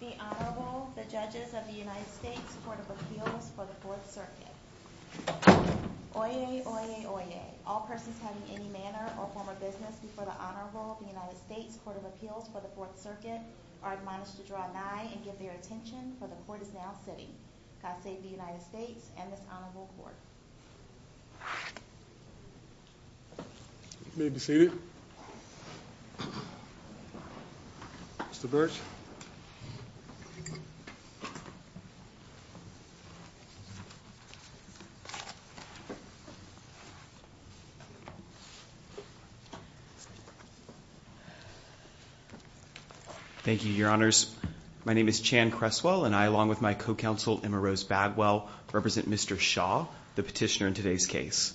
The Honorable, the Judges of the United States Court of Appeals for the Fourth Circuit. Oyez, oyez, oyez. All persons having any manner or form of business before the Honorable of the United States Court of Appeals for the Fourth Circuit are admonished to draw nigh and give their attention, for the Court is now sitting. God save the United States and this Honorable Court. You may be seated. Mr. Birch. Thank you, Your Honors. My name is Chan Cresswell and I along with my co-counsel Emma Rose Bagwell represent Mr. Shaw, the petitioner in today's case.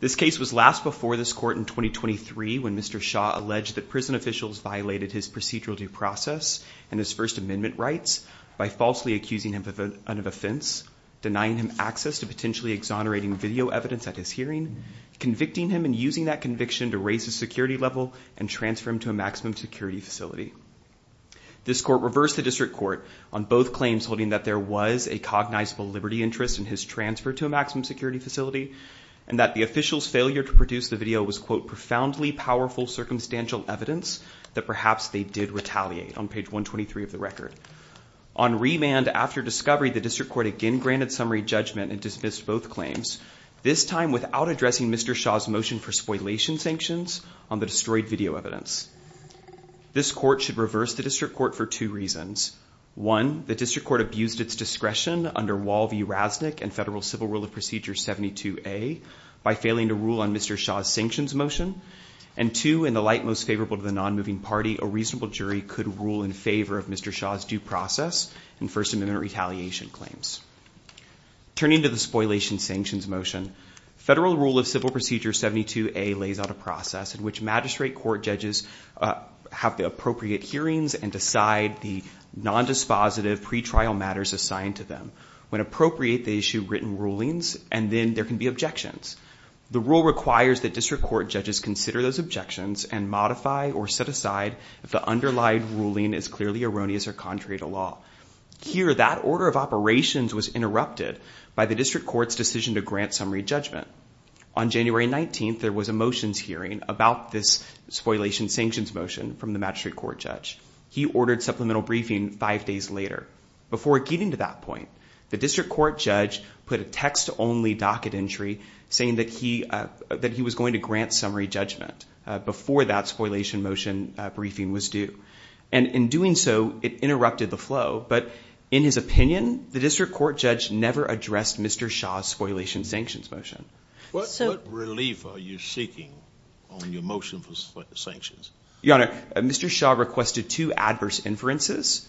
This case was last before this court in 2023 when Mr. Shaw alleged that prison officials violated his procedural due process and his First Amendment rights by falsely accusing him of an offense, denying him access to potentially exonerating video evidence at his hearing, convicting him and using that conviction to raise his security level and transfer him to a maximum security facility. This court reversed the district court on both claims holding that there was a cognizable liberty interest in his transfer to a maximum security facility and that the official's failure to produce the video was quote profoundly powerful circumstantial evidence that perhaps they did retaliate on page 123 of the record. On remand after discovery, the district court again granted summary judgment and dismissed both claims, this time without addressing Mr. Shaw's motion for spoilation sanctions on the destroyed video evidence. This court should reverse the district court for two reasons. One, the district court abused its discretion under Wall V. Rasnick and Federal Civil Rule of Procedure 72A by failing to rule on Mr. Shaw's sanctions motion and two, in the light most favorable to the non-moving party, a reasonable jury could rule in favor of Mr. Shaw's due process and First Amendment retaliation claims. Turning to the spoilation sanctions motion, Federal Rule of Civil Procedure 72A lays out a process in which magistrate court judges have the appropriate hearings and decide the non-dispositive pre-trial matters assigned to them. When appropriate, they issue written rulings and then there can be objections. The rule requires that district court judges consider those objections and modify or set aside if the underlying ruling is clearly erroneous or contrary to law. Here, that order of operations was interrupted by the district court's decision to grant summary judgment. On January 19th, there was a motions hearing about this spoilation sanctions motion from the magistrate court judge. He ordered supplemental briefing five days later. Before getting to that point, the district court judge put a text-only docket entry saying that he was going to grant summary judgment before that spoliation motion briefing was due. And in doing so, it interrupted the flow, but in his opinion, the district court judge never addressed Mr. Shaw's spoliation sanctions motion. What relief are you seeking on your motion for sanctions? Your Honor, Mr. Shaw requested two adverse inferences.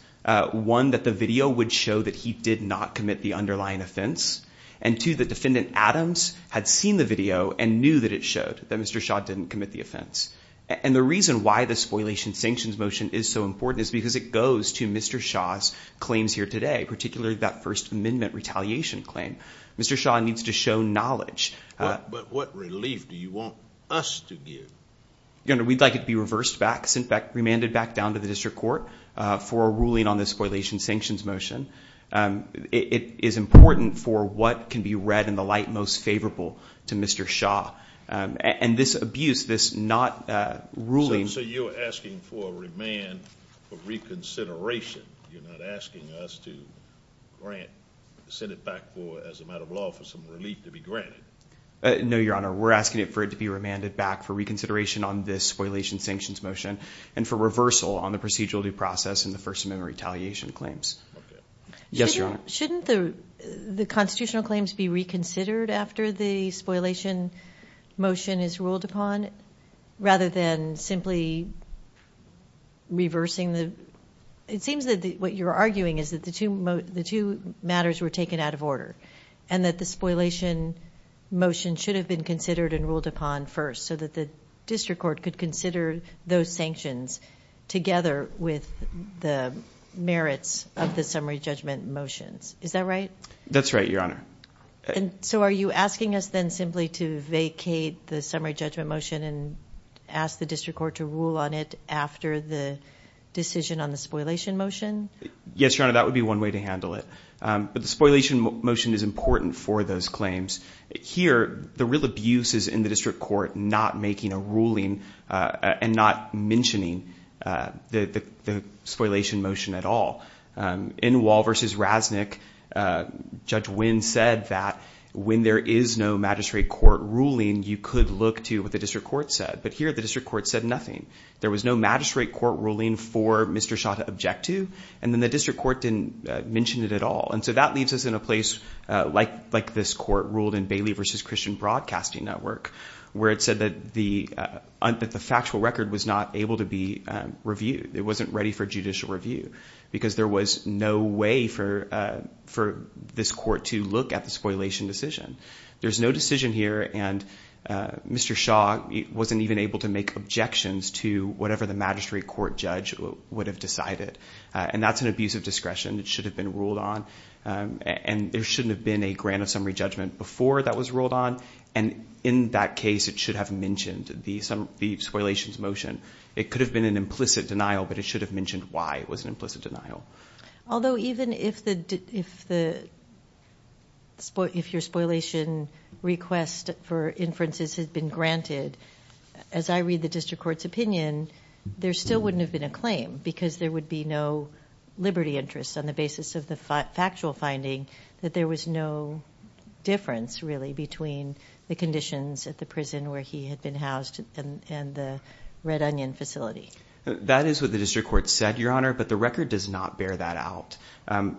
One, that the video would show that he did not commit the underlying offense. And two, that Defendant Adams had seen the video and knew that it showed that Mr. Shaw didn't commit the offense. And the reason why the spoliation sanctions motion is so important is because it goes to Mr. Shaw's claims here today, particularly that First Amendment retaliation claim. Mr. Shaw needs to show knowledge. But what relief do you want us to give? Your Honor, we'd like it to be reversed back, sent back, remanded back down to the district court for a ruling on the spoliation sanctions motion. It is important for what can be read in the light most favorable to Mr. Shaw. And this abuse, this not ruling— So you're asking for a remand for reconsideration. You're not asking us to grant, send it back for, as a matter of law, for some relief to be granted. No, Your Honor. We're asking for it to be remanded back for reconsideration on this spoliation sanctions motion and for reversal on the procedural due process and the First Amendment retaliation claims. Yes, Your Honor. Shouldn't the constitutional claims be reconsidered after the spoliation motion is ruled upon rather than simply reversing the— It seems that what you're arguing is that the two matters were taken out of order and that the spoliation motion should have been considered and ruled upon first so that the district court could consider those sanctions together with the merits of the summary judgment motions. Is that right? That's right, Your Honor. So are you asking us then simply to vacate the summary judgment motion and ask the district court to rule on it after the decision on the spoliation motion? Yes, Your Honor. That would be one way to handle it. But the spoliation motion is important for those claims. Here, the real abuse is in the district court not making a ruling and not mentioning the spoliation motion at all. In Wall v. Rasnick, Judge Wynn said that when there is no magistrate court ruling, you could look to what the district court said. But here, the district court said nothing. There was no magistrate court ruling for Mr. Shaw to object to, and then the district court didn't mention it at all. And so that leaves us in a place like this court ruled in Bailey v. Christian Broadcasting Network where it said that the factual record was not able to be reviewed. It wasn't ready for judicial review because there was no way for this court to look at the spoliation decision. There's no decision here, and Mr. Shaw wasn't even able to make objections to whatever the magistrate court judge would have decided. And that's an abuse of discretion. It should have been ruled on. And there shouldn't have been a grant of summary judgment before that was ruled on. And in that case, it should have mentioned the spoliation motion. It could have been an implicit denial, but it should have mentioned why it was an implicit denial. Although even if your spoliation request for inferences had been granted, as I read the district court's opinion, there still wouldn't have been a claim because there would be no liberty interest on the basis of the factual finding that there was no difference, really, between the conditions at the prison where he had been housed and the Red Onion facility. That is what the district court said, Your Honor, but the record does not bear that out.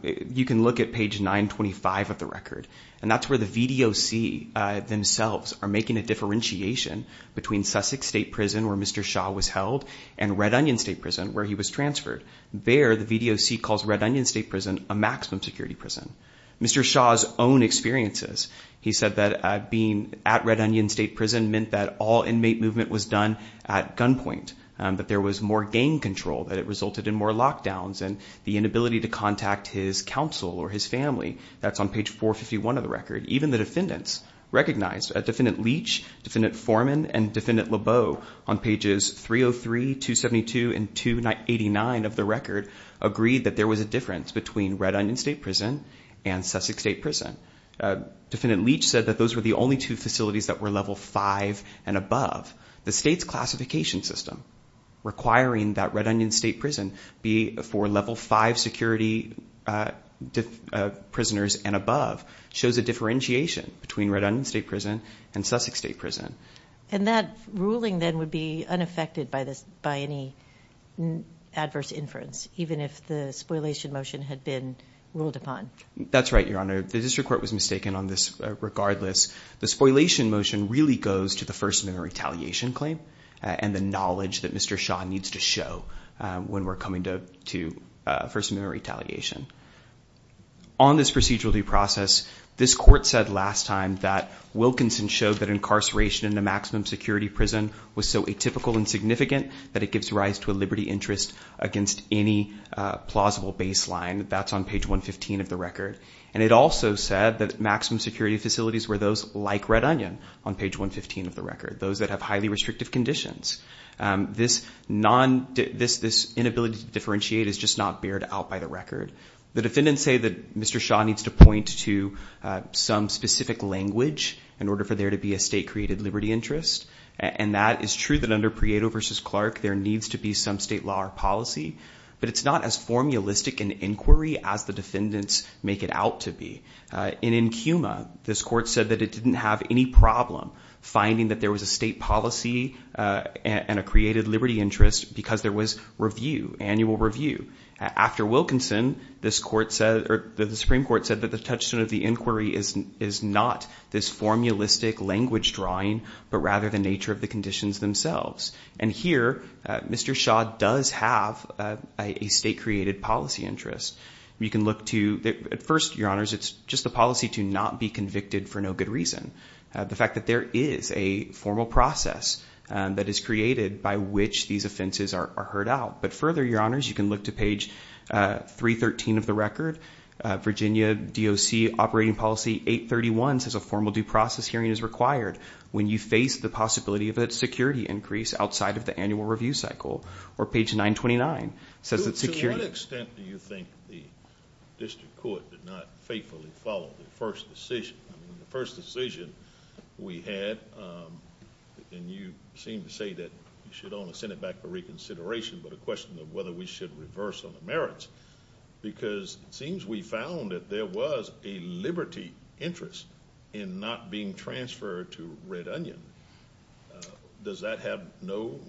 You can look at page 925 of the record, and that's where the VDOC themselves are making a differentiation between Sussex State Prison, where Mr. Shaw was held, and Red Onion State Prison, where he was transferred. There, the VDOC calls Red Onion State Prison a maximum security prison. Mr. Shaw's own experiences, he said that being at Red Onion State Prison meant that all inmate movement was done at gunpoint, that there was more gang control, that it resulted in more lockdowns, and the inability to contact his counsel or his family. That's on page 451 of the record. Even the defendants recognized. Defendant Leach, Defendant Foreman, and Defendant Lebeau on pages 303, 272, and 289 of the record agreed that there was a difference between Red Onion State Prison and Sussex State Prison. Defendant Leach said that those were the only two facilities that were level 5 and above. The state's classification system requiring that Red Onion State Prison be for level 5 security prisoners and above shows a differentiation between Red Onion State Prison and Sussex State Prison. And that ruling then would be unaffected by any adverse inference, even if the spoilation motion had been ruled upon. That's right, Your Honor. The district court was mistaken on this regardless. The spoilation motion really goes to the First Amendment retaliation claim and the knowledge that Mr. Shaw needs to show when we're coming to First Amendment retaliation. On this procedural due process, this court said last time that Wilkinson showed that incarceration in a maximum security prison was so atypical and significant that it gives rise to a liberty interest against any plausible baseline. That's on page 115 of the record. And it also said that maximum security facilities were those like Red Onion on page 115 of the record, those that have highly restrictive conditions. This inability to differentiate is just not bared out by the record. The defendants say that Mr. Shaw needs to point to some specific language in order for there to be a state-created liberty interest. And that is true that under Prieto v. Clark, there needs to be some state law or policy. But it's not as formulistic an inquiry as the defendants make it out to be. And in Cuma, this court said that it didn't have any problem finding that there was a state policy and a created liberty interest because there was review, annual review. After Wilkinson, the Supreme Court said that the touchstone of the inquiry is not this formulistic language drawing but rather the nature of the conditions themselves. And here, Mr. Shaw does have a state-created policy interest. At first, Your Honors, it's just a policy to not be convicted for no good reason. The fact that there is a formal process that is created by which these offenses are heard out. But further, Your Honors, you can look to page 313 of the record. Virginia DOC operating policy 831 says a formal due process hearing is required when you face the possibility of a security increase outside of the annual review cycle. Or page 929 says that security – To what extent do you think the district court did not faithfully follow the first decision? The first decision we had, and you seem to say that you should only send it back for reconsideration, but a question of whether we should reverse on the merits. Because it seems we found that there was a liberty interest in not being transferred to Red Onion. Does that have no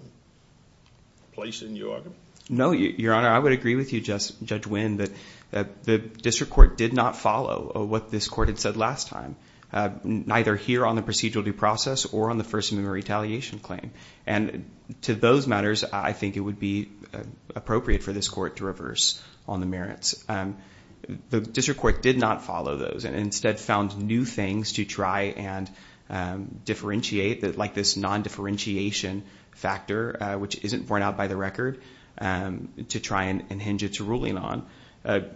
place in your argument? No, Your Honor. I would agree with you, Judge Winn, that the district court did not follow what this court had said last time, neither here on the procedural due process or on the First Amendment retaliation claim. And to those matters, I think it would be appropriate for this court to reverse on the merits. The district court did not follow those and instead found new things to try and differentiate, like this non-differentiation factor, which isn't borne out by the record, to try and hinge its ruling on.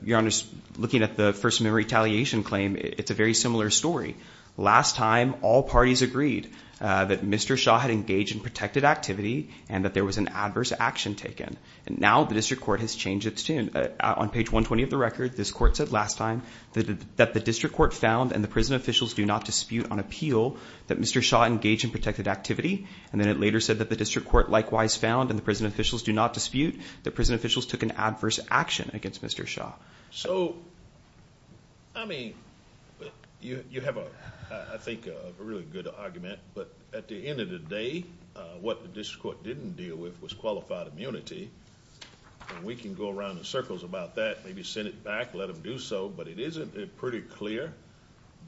Your Honor, looking at the First Amendment retaliation claim, it's a very similar story. Last time, all parties agreed that Mr. Shaw had engaged in protected activity and that there was an adverse action taken. Now the district court has changed its tune. On page 120 of the record, this court said last time that the district court found and the prison officials do not dispute on appeal that Mr. Shaw engaged in protected activity. And then it later said that the district court likewise found and the prison officials do not dispute that prison officials took an adverse action against Mr. Shaw. So, I mean, you have, I think, a really good argument. But at the end of the day, what the district court didn't deal with was qualified immunity. And we can go around in circles about that, maybe send it back, let them do so. But it isn't pretty clear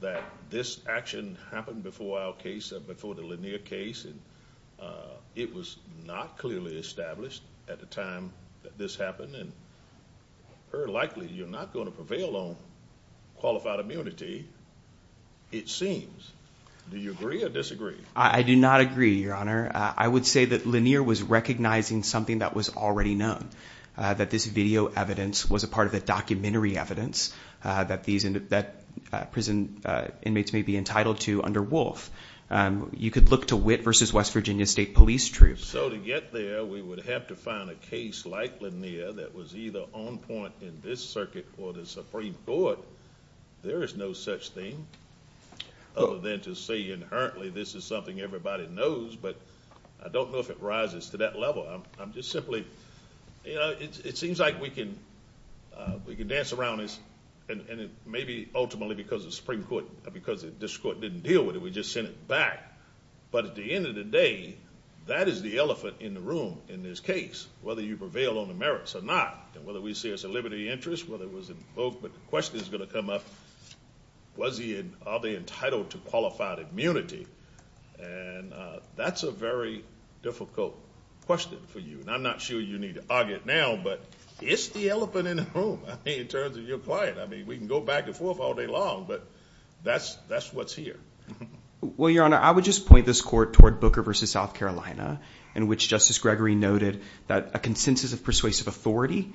that this action happened before our case, before the Lanier case. It was not clearly established at the time that this happened. And very likely you're not going to prevail on qualified immunity, it seems. Do you agree or disagree? I do not agree, Your Honor. I would say that Lanier was recognizing something that was already known, that this video evidence was a part of the documentary evidence that prison inmates may be entitled to under Wolf. You could look to Witt v. West Virginia State Police Troops. So to get there, we would have to find a case like Lanier that was either on point in this circuit or the Supreme Court. There is no such thing other than to say inherently this is something everybody knows. But I don't know if it rises to that level. I'm just simply, you know, it seems like we can dance around this, and it may be ultimately because of the Supreme Court, because this court didn't deal with it. We just sent it back. But at the end of the day, that is the elephant in the room in this case, whether you prevail on the merits or not, and whether we see it as a liberty of interest, whether it was invoked. But the question is going to come up, are they entitled to qualified immunity? And that's a very difficult question for you. And I'm not sure you need to argue it now, but it's the elephant in the room in terms of your client. I mean, we can go back and forth all day long, but that's what's here. Well, Your Honor, I would just point this court toward Booker v. South Carolina, in which Justice Gregory noted that a consensus of persuasive authority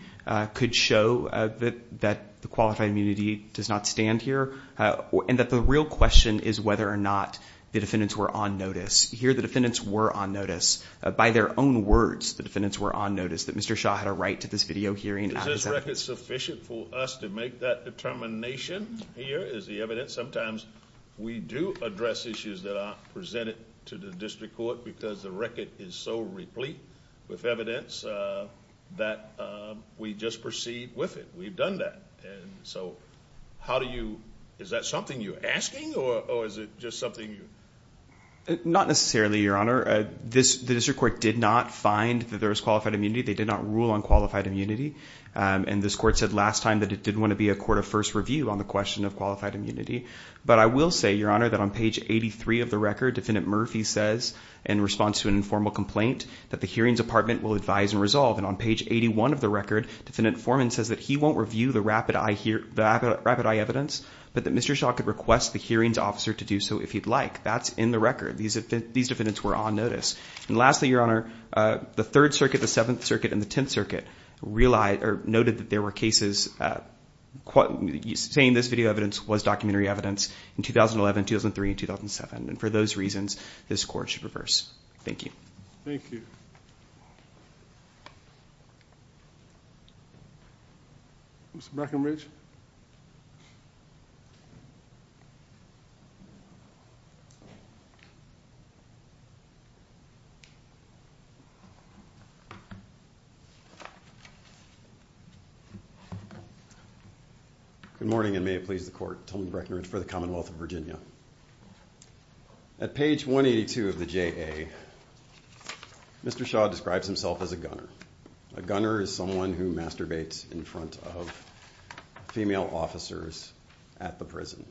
could show that the qualified immunity does not stand here, and that the real question is whether or not the defendants were on notice. Here, the defendants were on notice. By their own words, the defendants were on notice, that Mr. Shaw had a right to this video hearing. Is this record sufficient for us to make that determination? Here is the evidence. Sometimes we do address issues that aren't presented to the district court, because the record is so replete with evidence that we just proceed with it. We've done that. And so how do you – is that something you're asking, or is it just something you – Not necessarily, Your Honor. The district court did not find that there was qualified immunity. They did not rule on qualified immunity. And this court said last time that it didn't want to be a court of first review on the question of qualified immunity. But I will say, Your Honor, that on page 83 of the record, Defendant Murphy says in response to an informal complaint that the hearings department will advise and resolve. And on page 81 of the record, Defendant Foreman says that he won't review the rapid eye evidence, but that Mr. Shaw could request the hearings officer to do so if he'd like. That's in the record. These defendants were on notice. And lastly, Your Honor, the Third Circuit, the Seventh Circuit, and the Tenth Circuit noted that there were cases – saying this video evidence was documentary evidence in 2011, 2003, and 2007. And for those reasons, this court should reverse. Thank you. Thank you. Good morning, and may it please the court. Tony Breckinridge for the Commonwealth of Virginia. At page 182 of the JA, Mr. Shaw describes himself as a gunner. A gunner is someone who masturbates in front of female officers at the prison.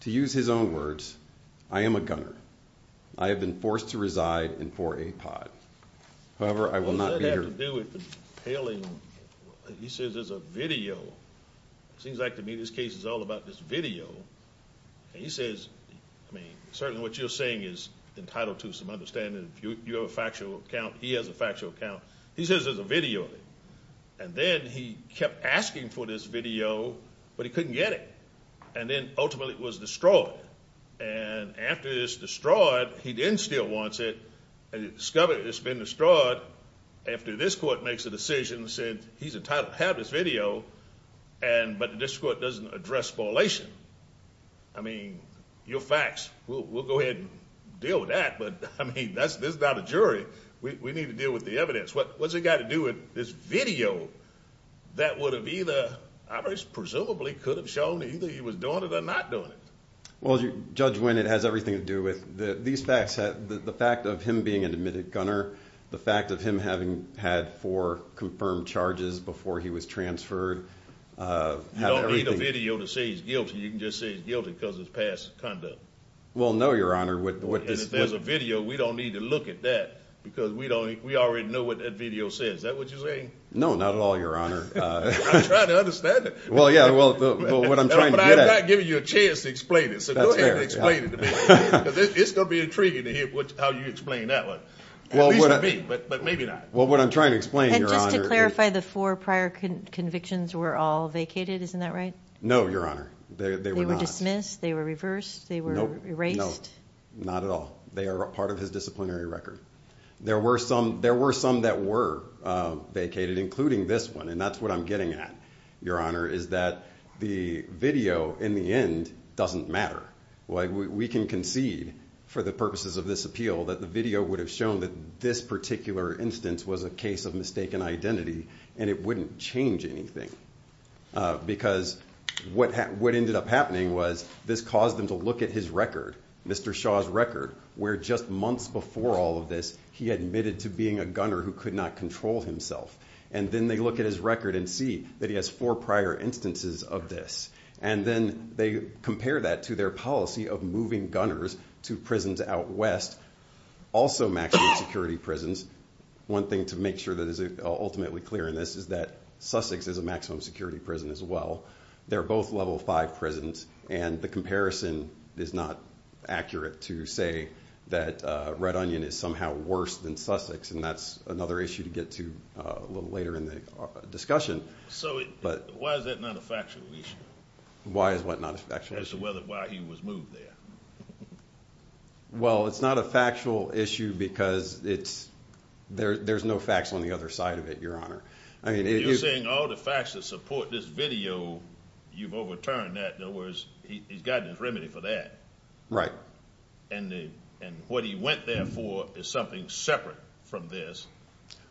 To use his own words, I am a gunner. I have been forced to reside in 4A pod. However, I will not be here – What does that have to do with compelling? He says there's a video. It seems like to me this case is all about this video. And he says, I mean, certainly what you're saying is entitled to some understanding. You have a factual account. He has a factual account. He says there's a video of it. And then he kept asking for this video, but he couldn't get it. And then ultimately it was destroyed. And after it's destroyed, he then still wants it. And he discovered it's been destroyed. But after this court makes a decision and said he's entitled to have this video, but this court doesn't address violation. I mean, your facts. We'll go ahead and deal with that. But, I mean, this is not a jury. We need to deal with the evidence. What's it got to do with this video that would have either presumably could have shown either he was doing it or not doing it? Well, Judge Winn, it has everything to do with these facts. The fact of him being an admitted gunner. The fact of him having had four confirmed charges before he was transferred. You don't need a video to say he's guilty. You can just say he's guilty because it's past conduct. Well, no, Your Honor. And if there's a video, we don't need to look at that because we already know what that video says. Is that what you're saying? No, not at all, Your Honor. I'm trying to understand it. Well, yeah, what I'm trying to get at. But I'm not giving you a chance to explain it, so go ahead and explain it to me. Because it's going to be intriguing to hear how you explain that one. At least to me, but maybe not. Well, what I'm trying to explain, Your Honor. And just to clarify, the four prior convictions were all vacated. Isn't that right? No, Your Honor. They were not. They were dismissed? They were reversed? They were erased? No, not at all. They are part of his disciplinary record. There were some that were vacated, including this one, and that's what I'm getting at, Your Honor, is that the video in the end doesn't matter. We can concede, for the purposes of this appeal, that the video would have shown that this particular instance was a case of mistaken identity, and it wouldn't change anything. Because what ended up happening was this caused them to look at his record, Mr. Shaw's record, where just months before all of this, he admitted to being a gunner who could not control himself. And then they look at his record and see that he has four prior instances of this. And then they compare that to their policy of moving gunners to prisons out west, also maximum security prisons. One thing to make sure that is ultimately clear in this is that Sussex is a maximum security prison as well. They're both Level 5 prisons, and the comparison is not accurate to say that Red Onion is somehow worse than Sussex, and that's another issue to get to a little later in the discussion. So why is that not a factual issue? Why is what not a factual issue? As to why he was moved there. Well, it's not a factual issue because there's no facts on the other side of it, Your Honor. You're saying all the facts that support this video, you've overturned that. In other words, he's gotten his remedy for that. Right. And what he went there for is something separate from this.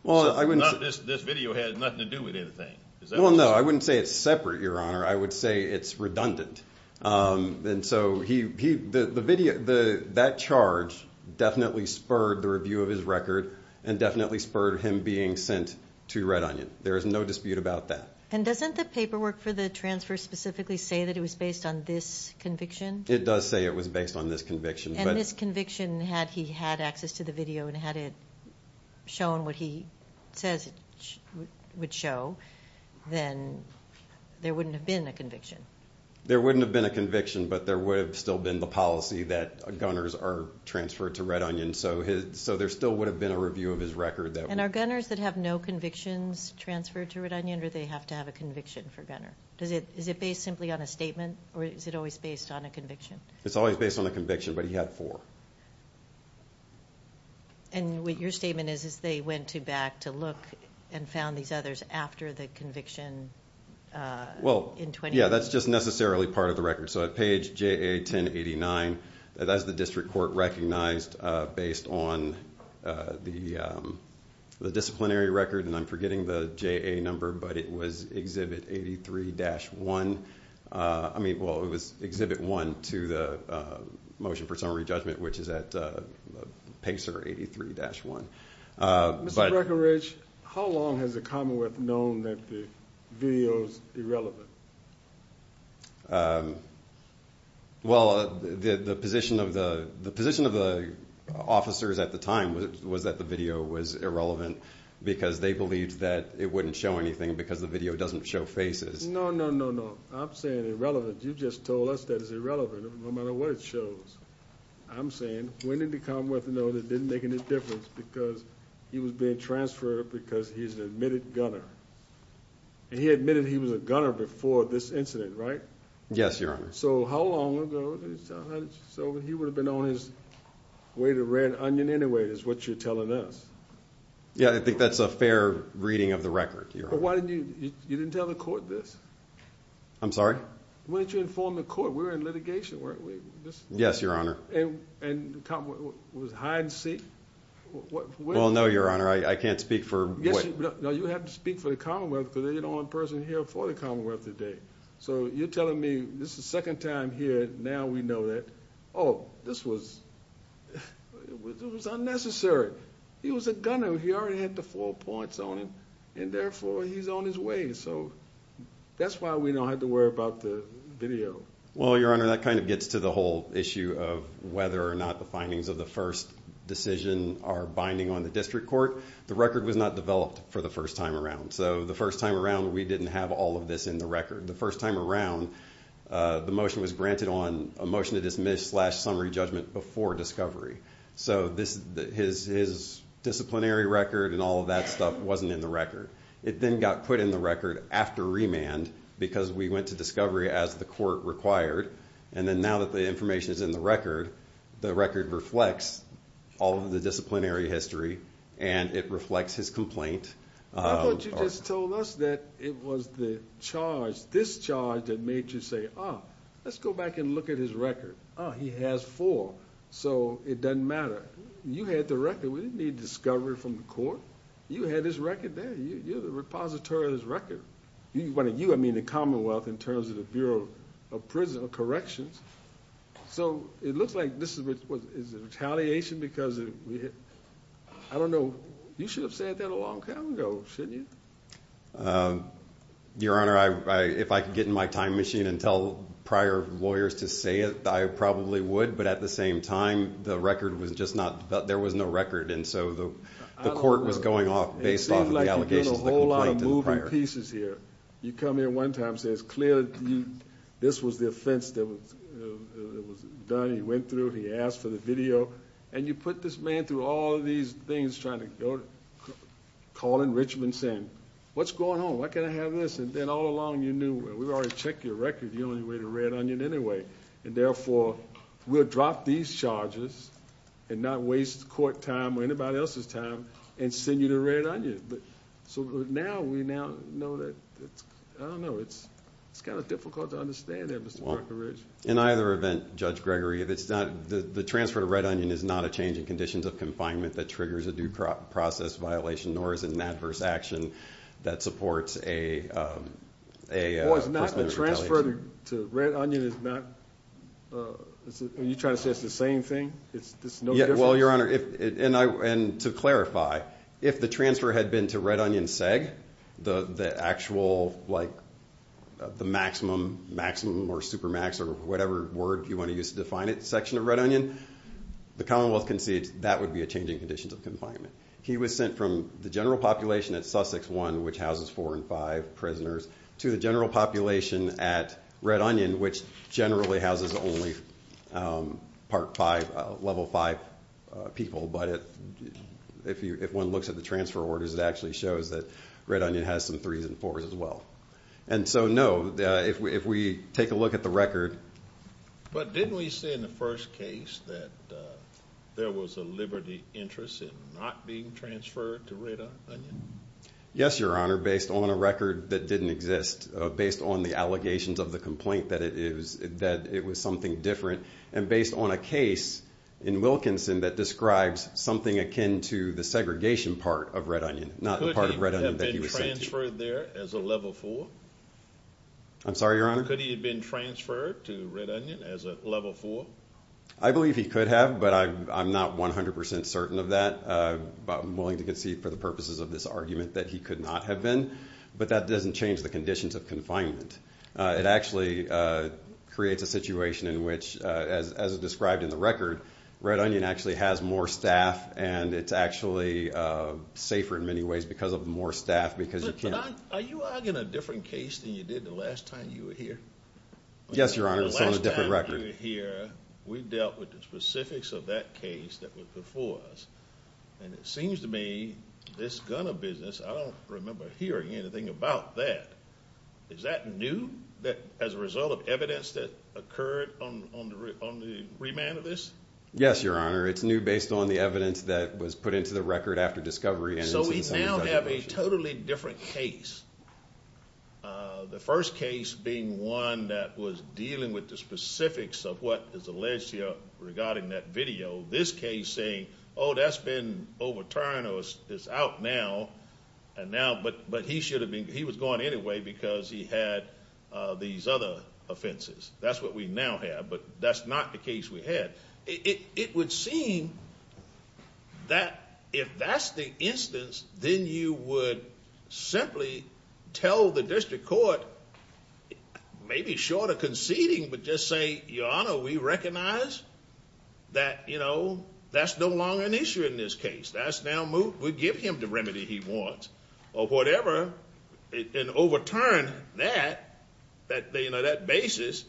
This video has nothing to do with anything. Well, no, I wouldn't say it's separate, Your Honor. I would say it's redundant. And so that charge definitely spurred the review of his record and definitely spurred him being sent to Red Onion. There is no dispute about that. And doesn't the paperwork for the transfer specifically say that it was based on this conviction? It does say it was based on this conviction. And this conviction, had he had access to the video and had it shown what he says it would show, then there wouldn't have been a conviction. There wouldn't have been a conviction, but there would have still been the policy that gunners are transferred to Red Onion. So there still would have been a review of his record. And are gunners that have no convictions transferred to Red Onion or do they have to have a conviction for gunner? Is it based simply on a statement or is it always based on a conviction? It's always based on a conviction, but he had four. And what your statement is, is they went back to look and found these others after the conviction in 2018? Yeah, that's just necessarily part of the record. So at page JA-1089, that's the district court recognized based on the disciplinary record. And I'm forgetting the JA number, but it was Exhibit 83-1. I mean, well, it was Exhibit 1 to the Motion for Summary Judgment, which is at PACER 83-1. Mr. Breckinridge, how long has the Commonwealth known that the video is irrelevant? Well, the position of the officers at the time was that the video was irrelevant because they believed that it wouldn't show anything because the video doesn't show faces. No, no, no, no. I'm saying irrelevant. You just told us that it's irrelevant no matter what it shows. I'm saying when did the Commonwealth know that it didn't make any difference because he was being transferred because he's an admitted gunner? And he admitted he was a gunner before this incident, right? Yes, Your Honor. So how long ago? So he would have been on his way to Red Onion anyway is what you're telling us. Yeah, I think that's a fair reading of the record, Your Honor. You didn't tell the court this? I'm sorry? Why didn't you inform the court? We were in litigation, weren't we? Yes, Your Honor. And the Commonwealth was hide and seek? Well, no, Your Honor. I can't speak for – No, you have to speak for the Commonwealth because they're the only person here for the Commonwealth today. So you're telling me this is the second time here, now we know that. Oh, this was – it was unnecessary. He was a gunner. He already had the four points on him, and therefore he's on his way. So that's why we don't have to worry about the video. Well, Your Honor, that kind of gets to the whole issue of whether or not the findings of the first decision are binding on the district court. The record was not developed for the first time around. So the first time around, we didn't have all of this in the record. The motion was granted on a motion to dismiss slash summary judgment before discovery. So his disciplinary record and all of that stuff wasn't in the record. It then got put in the record after remand because we went to discovery as the court required. And then now that the information is in the record, the record reflects all of the disciplinary history, and it reflects his complaint. I thought you just told us that it was the charge, this charge, that made you say, ah, let's go back and look at his record. Ah, he has four, so it doesn't matter. You had the record. We didn't need discovery from the court. You had his record there. You're the repository of his record. You, I mean, the Commonwealth in terms of the Bureau of Corrections. So it looks like this is retaliation because of, I don't know. You should have said that a long time ago, shouldn't you? Your Honor, if I could get in my time machine and tell prior lawyers to say it, I probably would. But at the same time, the record was just not, there was no record. And so the court was going off based off of the allegations of the complaint in the prior. It seems like you're doing a whole lot of moving pieces here. You come here one time and say it's clear that this was the offense that was done. He went through, he asked for the video, and you put this man through all of these things, trying to go, calling Richmond, saying, what's going on? Why can't I have this? And then all along you knew, well, we've already checked your record. You're the only way to Red Onion anyway, and therefore we'll drop these charges and not waste court time or anybody else's time and send you to Red Onion. So now we know that, I don't know, it's kind of difficult to understand that, Mr. Parker Ridge. In either event, Judge Gregory, the transfer to Red Onion is not a change in conditions of confinement that triggers a due process violation, nor is it an adverse action that supports a personal retaliation. It's not the transfer to Red Onion is not, are you trying to say it's the same thing? Well, Your Honor, and to clarify, if the transfer had been to Red Onion SEG, the actual, like, the maximum, maximum or supermax or whatever word you want to use to define it, section of Red Onion, the Commonwealth concedes that would be a change in conditions of confinement. He was sent from the general population at Sussex 1, which houses four and five prisoners, to the general population at Red Onion, which generally houses only part five, level five people. But if one looks at the transfer orders, it actually shows that Red Onion has some threes and fours as well. And so, no, if we take a look at the record. But didn't we say in the first case that there was a liberty interest in not being transferred to Red Onion? Yes, Your Honor, based on a record that didn't exist, based on the allegations of the complaint that it is that it was something different. And based on a case in Wilkinson that describes something akin to the segregation part of Red Onion, not the part of Red Onion that he was sent to. Could he have been transferred there as a level four? I'm sorry, Your Honor? Could he have been transferred to Red Onion as a level four? I believe he could have, but I'm not 100 percent certain of that. But I'm willing to concede for the purposes of this argument that he could not have been. But that doesn't change the conditions of confinement. It actually creates a situation in which, as described in the record, Red Onion actually has more staff, and it's actually safer in many ways because of more staff. But are you arguing a different case than you did the last time you were here? Yes, Your Honor, it's on a different record. We dealt with the specifics of that case that was before us, and it seems to me this gunner business, I don't remember hearing anything about that. Is that new as a result of evidence that occurred on the remand of this? Yes, Your Honor. It's new based on the evidence that was put into the record after discovery. So we now have a totally different case. The first case being one that was dealing with the specifics of what is alleged here regarding that video. This case saying, oh, that's been overturned or it's out now, but he was going anyway because he had these other offenses. That's what we now have, but that's not the case we had. It would seem that if that's the instance, then you would simply tell the district court, maybe short of conceding, but just say, Your Honor, we recognize that that's no longer an issue in this case. We give him the remedy he wants or whatever, and overturn that basis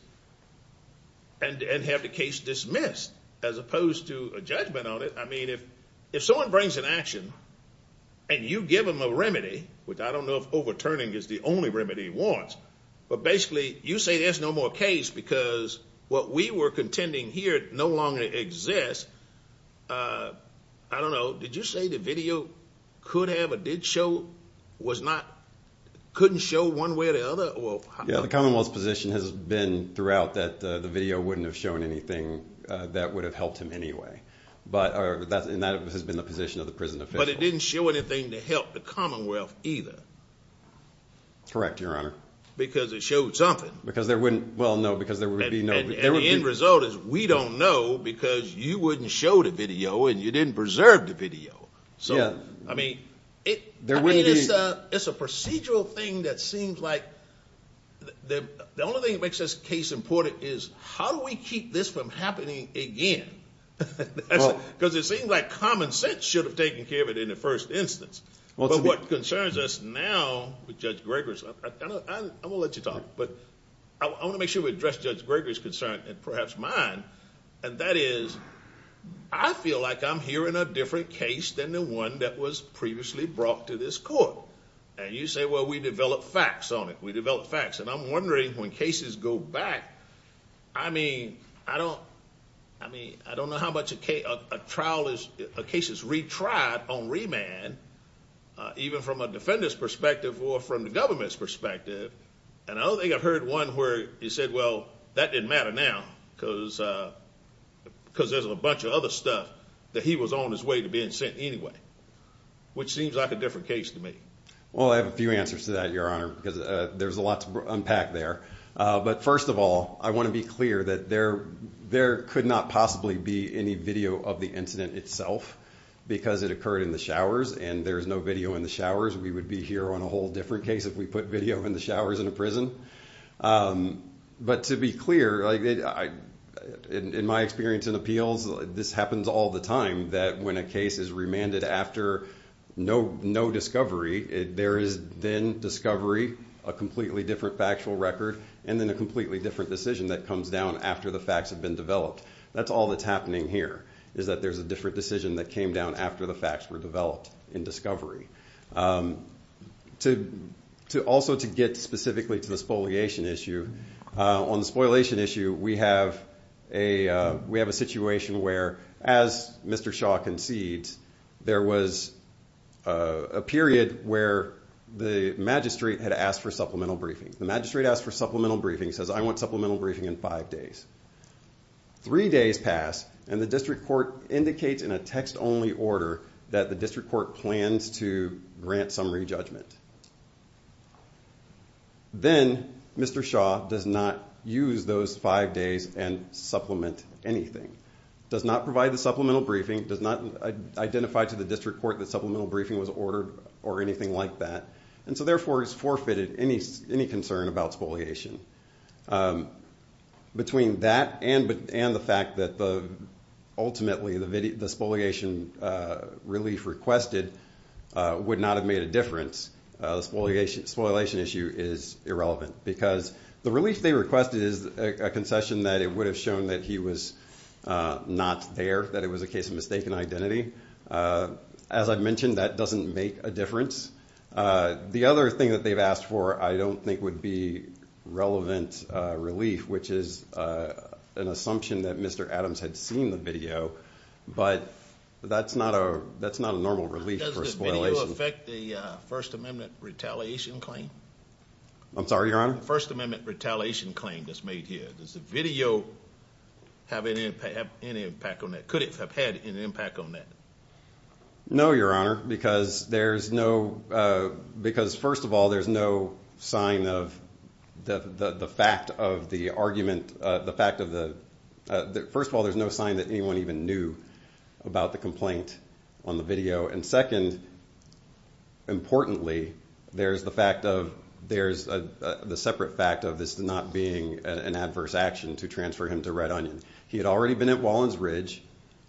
and have the case dismissed as opposed to a judgment on it. I mean, if someone brings an action and you give them a remedy, which I don't know if overturning is the only remedy he wants, but basically you say there's no more case because what we were contending here no longer exists. I don't know. Did you say the video couldn't show one way or the other? Yeah. The Commonwealth's position has been throughout that the video wouldn't have shown anything that would have helped him anyway, and that has been the position of the prison official. But it didn't show anything to help the Commonwealth either. Correct, Your Honor. Because it showed something. Well, no, because there would be no— And the end result is we don't know because you wouldn't show the video and you didn't preserve the video. So, I mean, it's a procedural thing that seems like the only thing that makes this case important is, how do we keep this from happening again? Because it seems like common sense should have taken care of it in the first instance. But what concerns us now with Judge Greger's—I'm going to let you talk, but I want to make sure we address Judge Greger's concern and perhaps mine, and that is I feel like I'm hearing a different case than the one that was previously brought to this court. And you say, well, we develop facts on it. We develop facts, and I'm wondering when cases go back, I mean, I don't know how much a trial is— a case is retried on remand, even from a defender's perspective or from the government's perspective, and I don't think I've heard one where you said, well, that didn't matter now because there's a bunch of other stuff that he was on his way to being sent anyway, which seems like a different case to me. Well, I have a few answers to that, Your Honor, because there's a lot to unpack there. But first of all, I want to be clear that there could not possibly be any video of the incident itself because it occurred in the showers and there's no video in the showers. We would be here on a whole different case if we put video in the showers in a prison. But to be clear, in my experience in appeals, this happens all the time that when a case is remanded after no discovery, there is then discovery, a completely different factual record, and then a completely different decision that comes down after the facts have been developed. That's all that's happening here is that there's a different decision that came down after the facts were developed in discovery. Also, to get specifically to the spoliation issue, on the spoliation issue, we have a situation where, as Mr. Shaw concedes, there was a period where the magistrate had asked for supplemental briefing. The magistrate asked for supplemental briefing, says, I want supplemental briefing in five days. Three days pass, and the district court indicates in a text-only order that the district court plans to grant summary judgment. Then Mr. Shaw does not use those five days and supplement anything, does not provide the supplemental briefing, does not identify to the district court that supplemental briefing was ordered or anything like that, and so therefore has forfeited any concern about spoliation. Between that and the fact that ultimately the spoliation relief requested would not have made a difference, the spoliation issue is irrelevant because the relief they requested is a concession that it would have shown that he was not there, that it was a case of mistaken identity. As I've mentioned, that doesn't make a difference. The other thing that they've asked for I don't think would be relevant relief, which is an assumption that Mr. Adams had seen the video, but that's not a normal relief for spoliation. Does the video affect the First Amendment retaliation claim? I'm sorry, Your Honor? The First Amendment retaliation claim that's made here, does the video have any impact on that? Could it have had any impact on that? No, Your Honor, because first of all, there's no sign of the fact of the argument. First of all, there's no sign that anyone even knew about the complaint on the video, and second, importantly, there's the separate fact of this not being an adverse action to transfer him to Red Onion. He had already been at Wallens Ridge.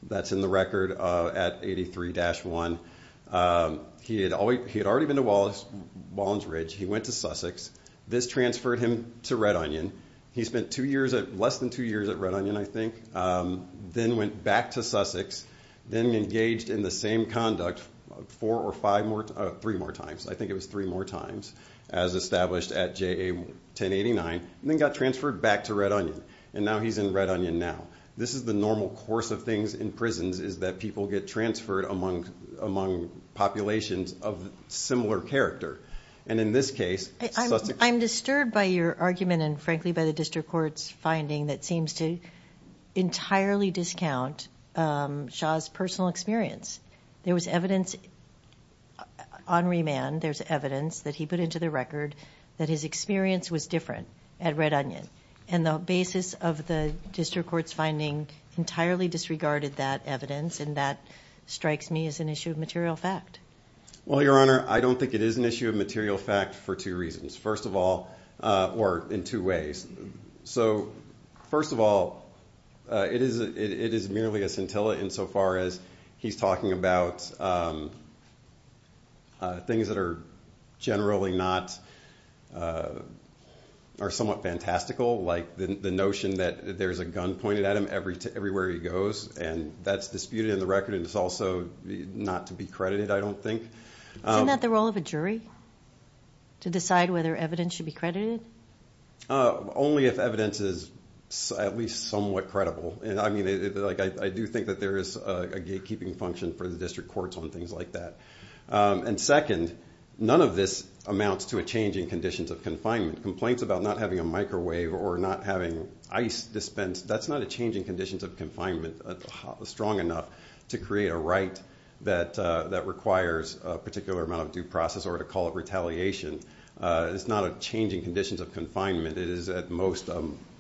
That's in the record at 83-1. He had already been to Wallens Ridge. He went to Sussex. This transferred him to Red Onion. He spent less than two years at Red Onion, I think, then went back to Sussex, then engaged in the same conduct four or five more—three more times. I think it was three more times, as established at JA-1089, and then got transferred back to Red Onion. And now he's in Red Onion now. This is the normal course of things in prisons, is that people get transferred among populations of similar character. And in this case— I'm disturbed by your argument and, frankly, by the district court's finding that seems to entirely discount Shaw's personal experience. There was evidence on remand. There's evidence that he put into the record that his experience was different at Red Onion. And the basis of the district court's finding entirely disregarded that evidence, and that strikes me as an issue of material fact. Well, Your Honor, I don't think it is an issue of material fact for two reasons. First of all—or in two ways. So first of all, it is merely a scintilla insofar as he's talking about things that are generally not—are somewhat fantastical, like the notion that there's a gun pointed at him everywhere he goes. And that's disputed in the record, and it's also not to be credited, I don't think. Isn't that the role of a jury, to decide whether evidence should be credited? Only if evidence is at least somewhat credible. I do think that there is a gatekeeping function for the district courts on things like that. And second, none of this amounts to a change in conditions of confinement. Complaints about not having a microwave or not having ice dispensed, that's not a change in conditions of confinement strong enough to create a right that requires a particular amount of due process or to call it retaliation. It's not a change in conditions of confinement. It is at most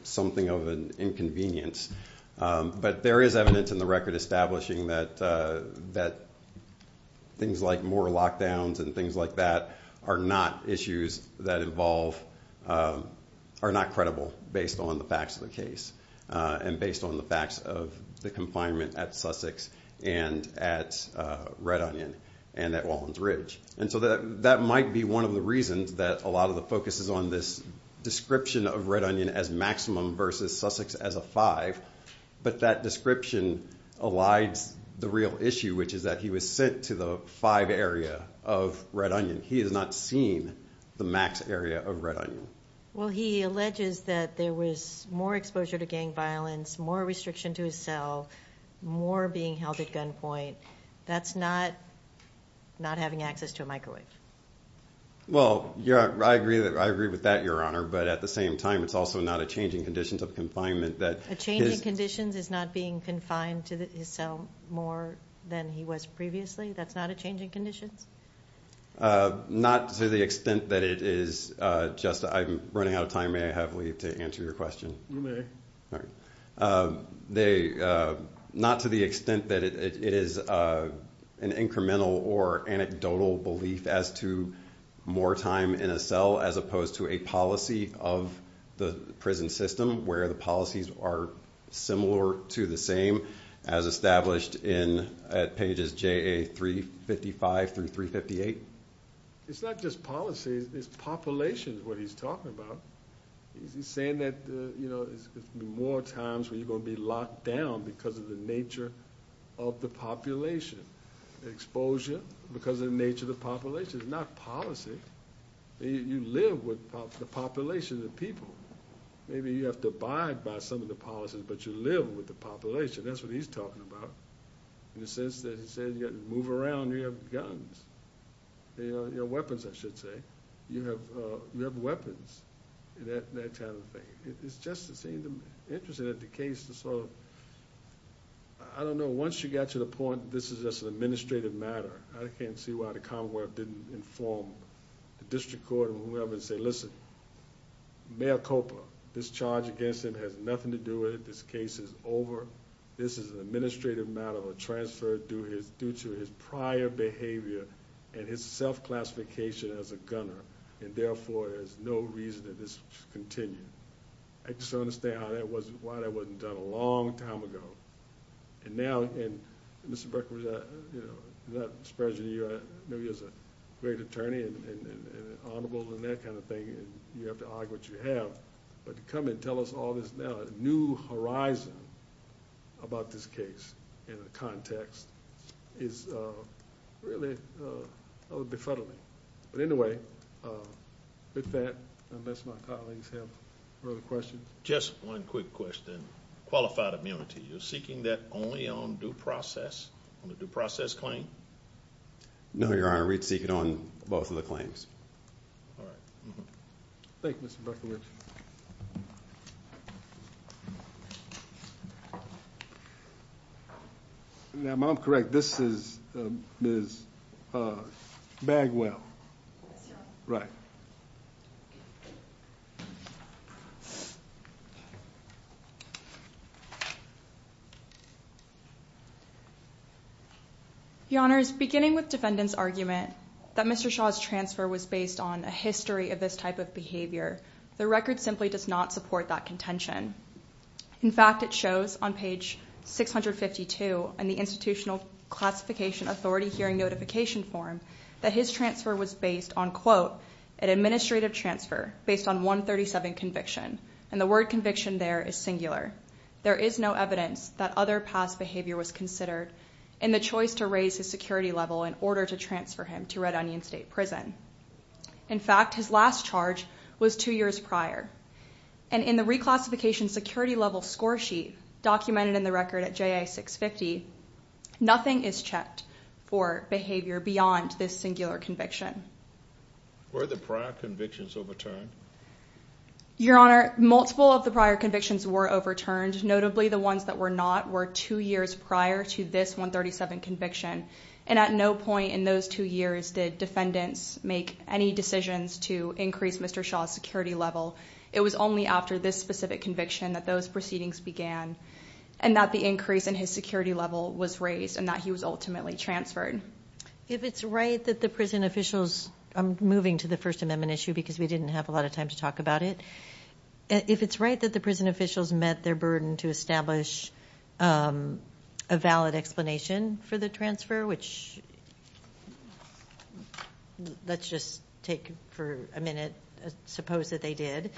something of an inconvenience. But there is evidence in the record establishing that things like more lockdowns and things like that are not issues that involve—are not credible based on the facts of the case and based on the facts of the confinement at Sussex and at Red Onion and at Wallens Ridge. And so that might be one of the reasons that a lot of the focus is on this description of Red Onion as maximum versus Sussex as a five, but that description elides the real issue, which is that he was sent to the five area of Red Onion. He has not seen the max area of Red Onion. Well, he alleges that there was more exposure to gang violence, more restriction to his cell, more being held at gunpoint. That's not having access to a microwave. Well, I agree with that, Your Honor, but at the same time, it's also not a change in conditions of confinement. A change in conditions is not being confined to his cell more than he was previously? That's not a change in conditions? Not to the extent that it is just—I'm running out of time. May I have leave to answer your question? You may. All right. Not to the extent that it is an incremental or anecdotal belief as to more time in a cell as opposed to a policy of the prison system where the policies are similar to the same as established at pages JA355 through 358? It's not just policy. It's population, what he's talking about. He's saying that there's going to be more times where you're going to be locked down because of the nature of the population. Exposure because of the nature of the population. It's not policy. You live with the population of the people. Maybe you have to abide by some of the policies, but you live with the population. That's what he's talking about in the sense that he said you got to move around. You have guns. You have weapons, I should say. You have weapons and that kind of thing. It's just interesting that the case is sort of... I don't know. Once you get to the point that this is just an administrative matter, I can't see why the Commonwealth didn't inform the district court or whoever and say, listen, Mayor Coper, this charge against him has nothing to do with it. This case is over. This is an administrative matter or transferred due to his prior behavior and his self-classification as a gunner. Therefore, there's no reason that this should continue. I just don't understand why that wasn't done a long time ago. Now, Mr. Berkowitz, I know you as a great attorney and honorable and that kind of thing and you have to argue what you have, but to come and tell us all this now, a new horizon about this case and the context is really befuddling. But anyway, with that, unless my colleagues have further questions. Just one quick question. Qualified immunity, you're seeking that only on due process, on the due process claim? No, Your Honor, we'd seek it on both of the claims. All right. Thank you, Mr. Berkowitz. Now, if I'm correct, this is Ms. Bagwell. Yes, Your Honor. Right. Your Honors, beginning with defendant's argument that Mr. Shaw's transfer was based on a history of this type of behavior, the record simply does not support that contention. In fact, it shows on page 652 in the institutional classification authority hearing notification form that his transfer was based on, quote, an administrative transfer based on 137 conviction. And the word conviction there is singular. There is no evidence that other past behavior was considered in the choice to raise his security level in order to transfer him to Red Onion State Prison. In fact, his last charge was two years prior. And in the reclassification security level score sheet documented in the record at JA 650, nothing is checked for behavior beyond this singular conviction. Were the prior convictions overturned? Your Honor, multiple of the prior convictions were overturned. Notably, the ones that were not were two years prior to this 137 conviction. And at no point in those two years did defendants make any decisions to increase Mr. Shaw's security level. It was only after this specific conviction that those proceedings began and that the increase in his security level was raised and that he was ultimately transferred. If it's right that the prison officials, I'm moving to the First Amendment issue because we didn't have a lot of time to talk about it. If it's right that the prison officials met their burden to establish a valid explanation for the transfer, which let's just take for a minute, suppose that they did,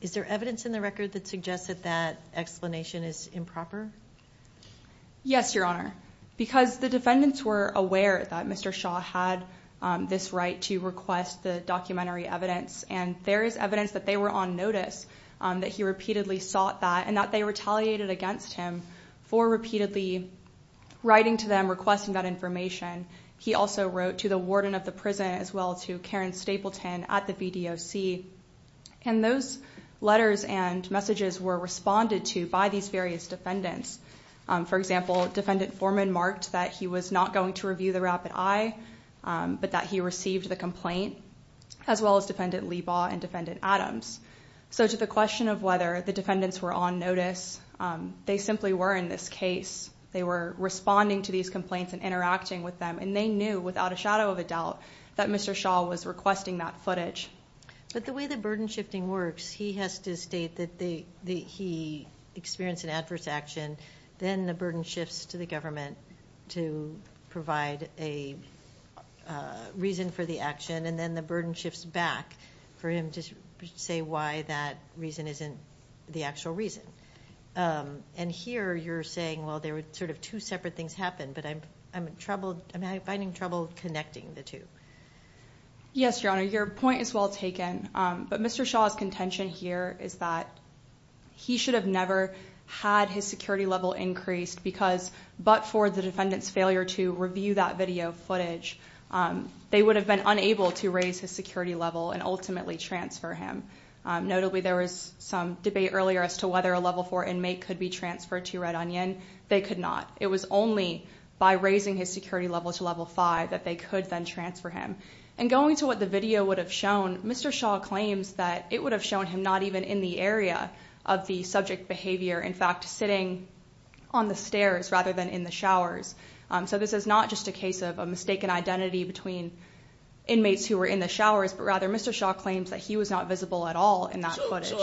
is there evidence in the record that suggests that that explanation is improper? Yes, Your Honor, because the defendants were aware that Mr. Shaw had this right to request the documentary evidence and there is evidence that they were on notice, that he repeatedly sought that and that they retaliated against him for repeatedly writing to them, requesting that information. He also wrote to the warden of the prison as well as to Karen Stapleton at the BDOC. And those letters and messages were responded to by these various defendants. For example, Defendant Foreman marked that he was not going to review the rapid eye, but that he received the complaint, as well as Defendant Leibov and Defendant Adams. So to the question of whether the defendants were on notice, they simply were in this case. They were responding to these complaints and interacting with them, and they knew without a shadow of a doubt that Mr. Shaw was requesting that footage. But the way the burden shifting works, he has to state that he experienced an adverse action, then the burden shifts to the government to provide a reason for the action, and then the burden shifts back for him to say why that reason isn't the actual reason. And here you're saying, well, there were sort of two separate things happened, but I'm finding trouble connecting the two. Yes, Your Honor, your point is well taken. But Mr. Shaw's contention here is that he should have never had his security level increased because but for the defendant's failure to review that video footage, they would have been unable to raise his security level and ultimately transfer him. Notably, there was some debate earlier as to whether a Level 4 inmate could be transferred to Red Onion. They could not. It was only by raising his security level to Level 5 that they could then transfer him. And going to what the video would have shown, Mr. Shaw claims that it would have shown him not even in the area of the subject behavior, in fact, sitting on the stairs rather than in the showers. So this is not just a case of a mistaken identity between inmates who were in the showers, but rather Mr. Shaw claims that he was not visible at all in that footage.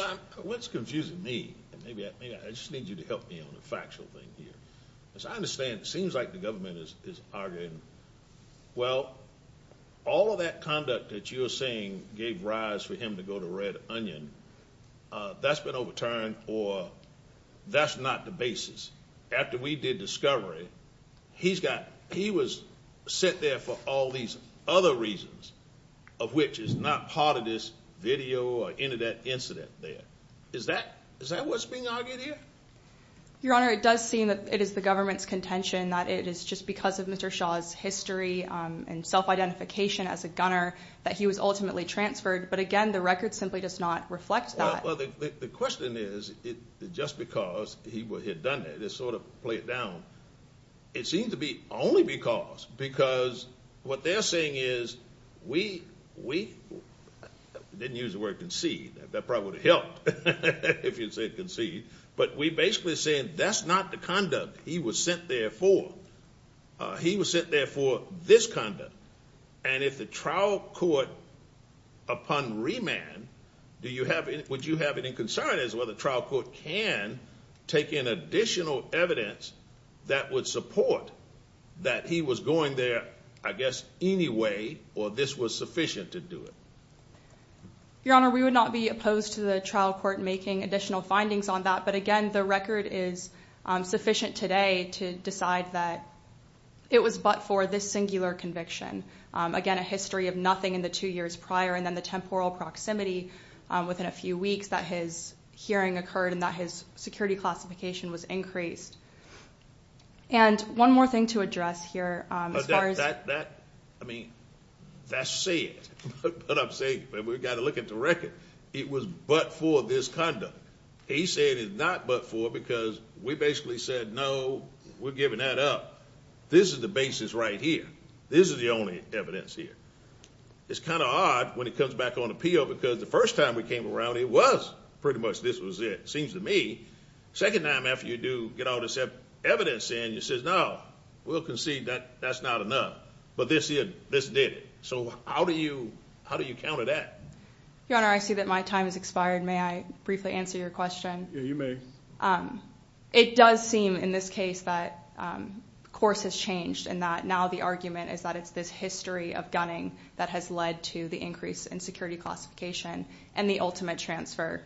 What's confusing me, and maybe I just need you to help me on a factual thing here, is I understand it seems like the government is arguing, well, all of that conduct that you are saying gave rise for him to go to Red Onion, that's been overturned or that's not the basis. After we did discovery, he was sent there for all these other reasons, of which is not part of this video or any of that incident there. Is that what's being argued here? Your Honor, it does seem that it is the government's contention that it is just because of Mr. Shaw's history and self-identification as a gunner that he was ultimately transferred. But, again, the record simply does not reflect that. Well, the question is, just because he had done that, to sort of play it down, it seems to be only because. Because what they're saying is we – I didn't use the word concede. That probably would have helped if you had said concede. But we're basically saying that's not the conduct he was sent there for. He was sent there for this conduct. And if the trial court, upon remand, would you have any concern as to whether the trial court can take in additional evidence that would support that he was going there, I guess, anyway, or this was sufficient to do it? Your Honor, we would not be opposed to the trial court making additional findings on that. But, again, the record is sufficient today to decide that it was but for this singular conviction. Again, a history of nothing in the two years prior, and then the temporal proximity within a few weeks that his hearing occurred and that his security classification was increased. And one more thing to address here as far as – That – I mean, that's it. But I'm saying we've got to look at the record. It was but for this conduct. He said it's not but for because we basically said, no, we're giving that up. This is the basis right here. This is the only evidence here. It's kind of odd when it comes back on appeal because the first time we came around, it was pretty much this was it. It seems to me the second time after you do get all this evidence in, you say, no, we'll concede that that's not enough. But this did it. So how do you counter that? Your Honor, I see that my time has expired. May I briefly answer your question? Yeah, you may. It does seem in this case that course has changed and that now the argument is that it's this history of gunning that has led to the increase in security classification and the ultimate transfer.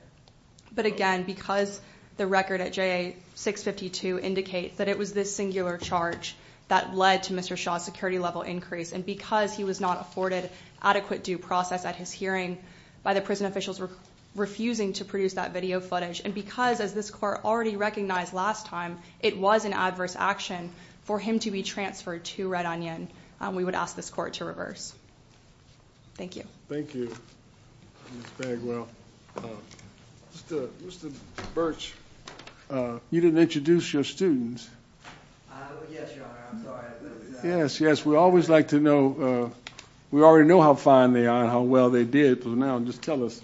But, again, because the record at JA-652 indicates that it was this singular charge that led to Mr. Shaw's security level increase and because he was not afforded adequate due process at his hearing by the prison officials refusing to produce that video footage and because, as this court already recognized last time, it was an adverse action for him to be transferred to Red Onion, we would ask this court to reverse. Thank you. Thank you, Ms. Bagwell. Mr. Birch, you didn't introduce your students. Yes, Your Honor, I'm sorry. Yes, yes, we always like to know. We already know how fine they are and how well they did. So now just tell us,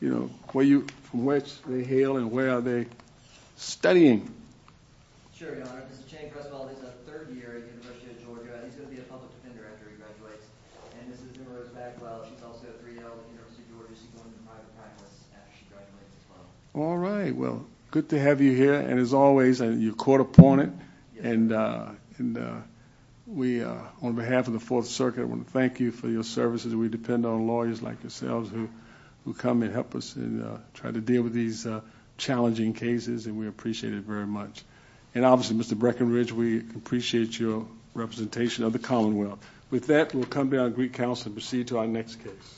you know, from which they hail and where are they studying? Sure, Your Honor. This is Chang Cresswell. He's a third year at the University of Georgia. He's going to be a public defender after he graduates. And this is Ms. Bagwell. She's also a 3L at the University of Georgia. She's going to be a private practice after she graduates as well. All right. Well, good to have you here. And as always, you're court appointed. And we, on behalf of the Fourth Circuit, want to thank you for your services. We depend on lawyers like yourselves who come and help us and try to deal with these challenging cases, and we appreciate it very much. And obviously, Mr. Breckenridge, we appreciate your representation of the Commonwealth. With that, we'll come to our Greek Council and proceed to our next case.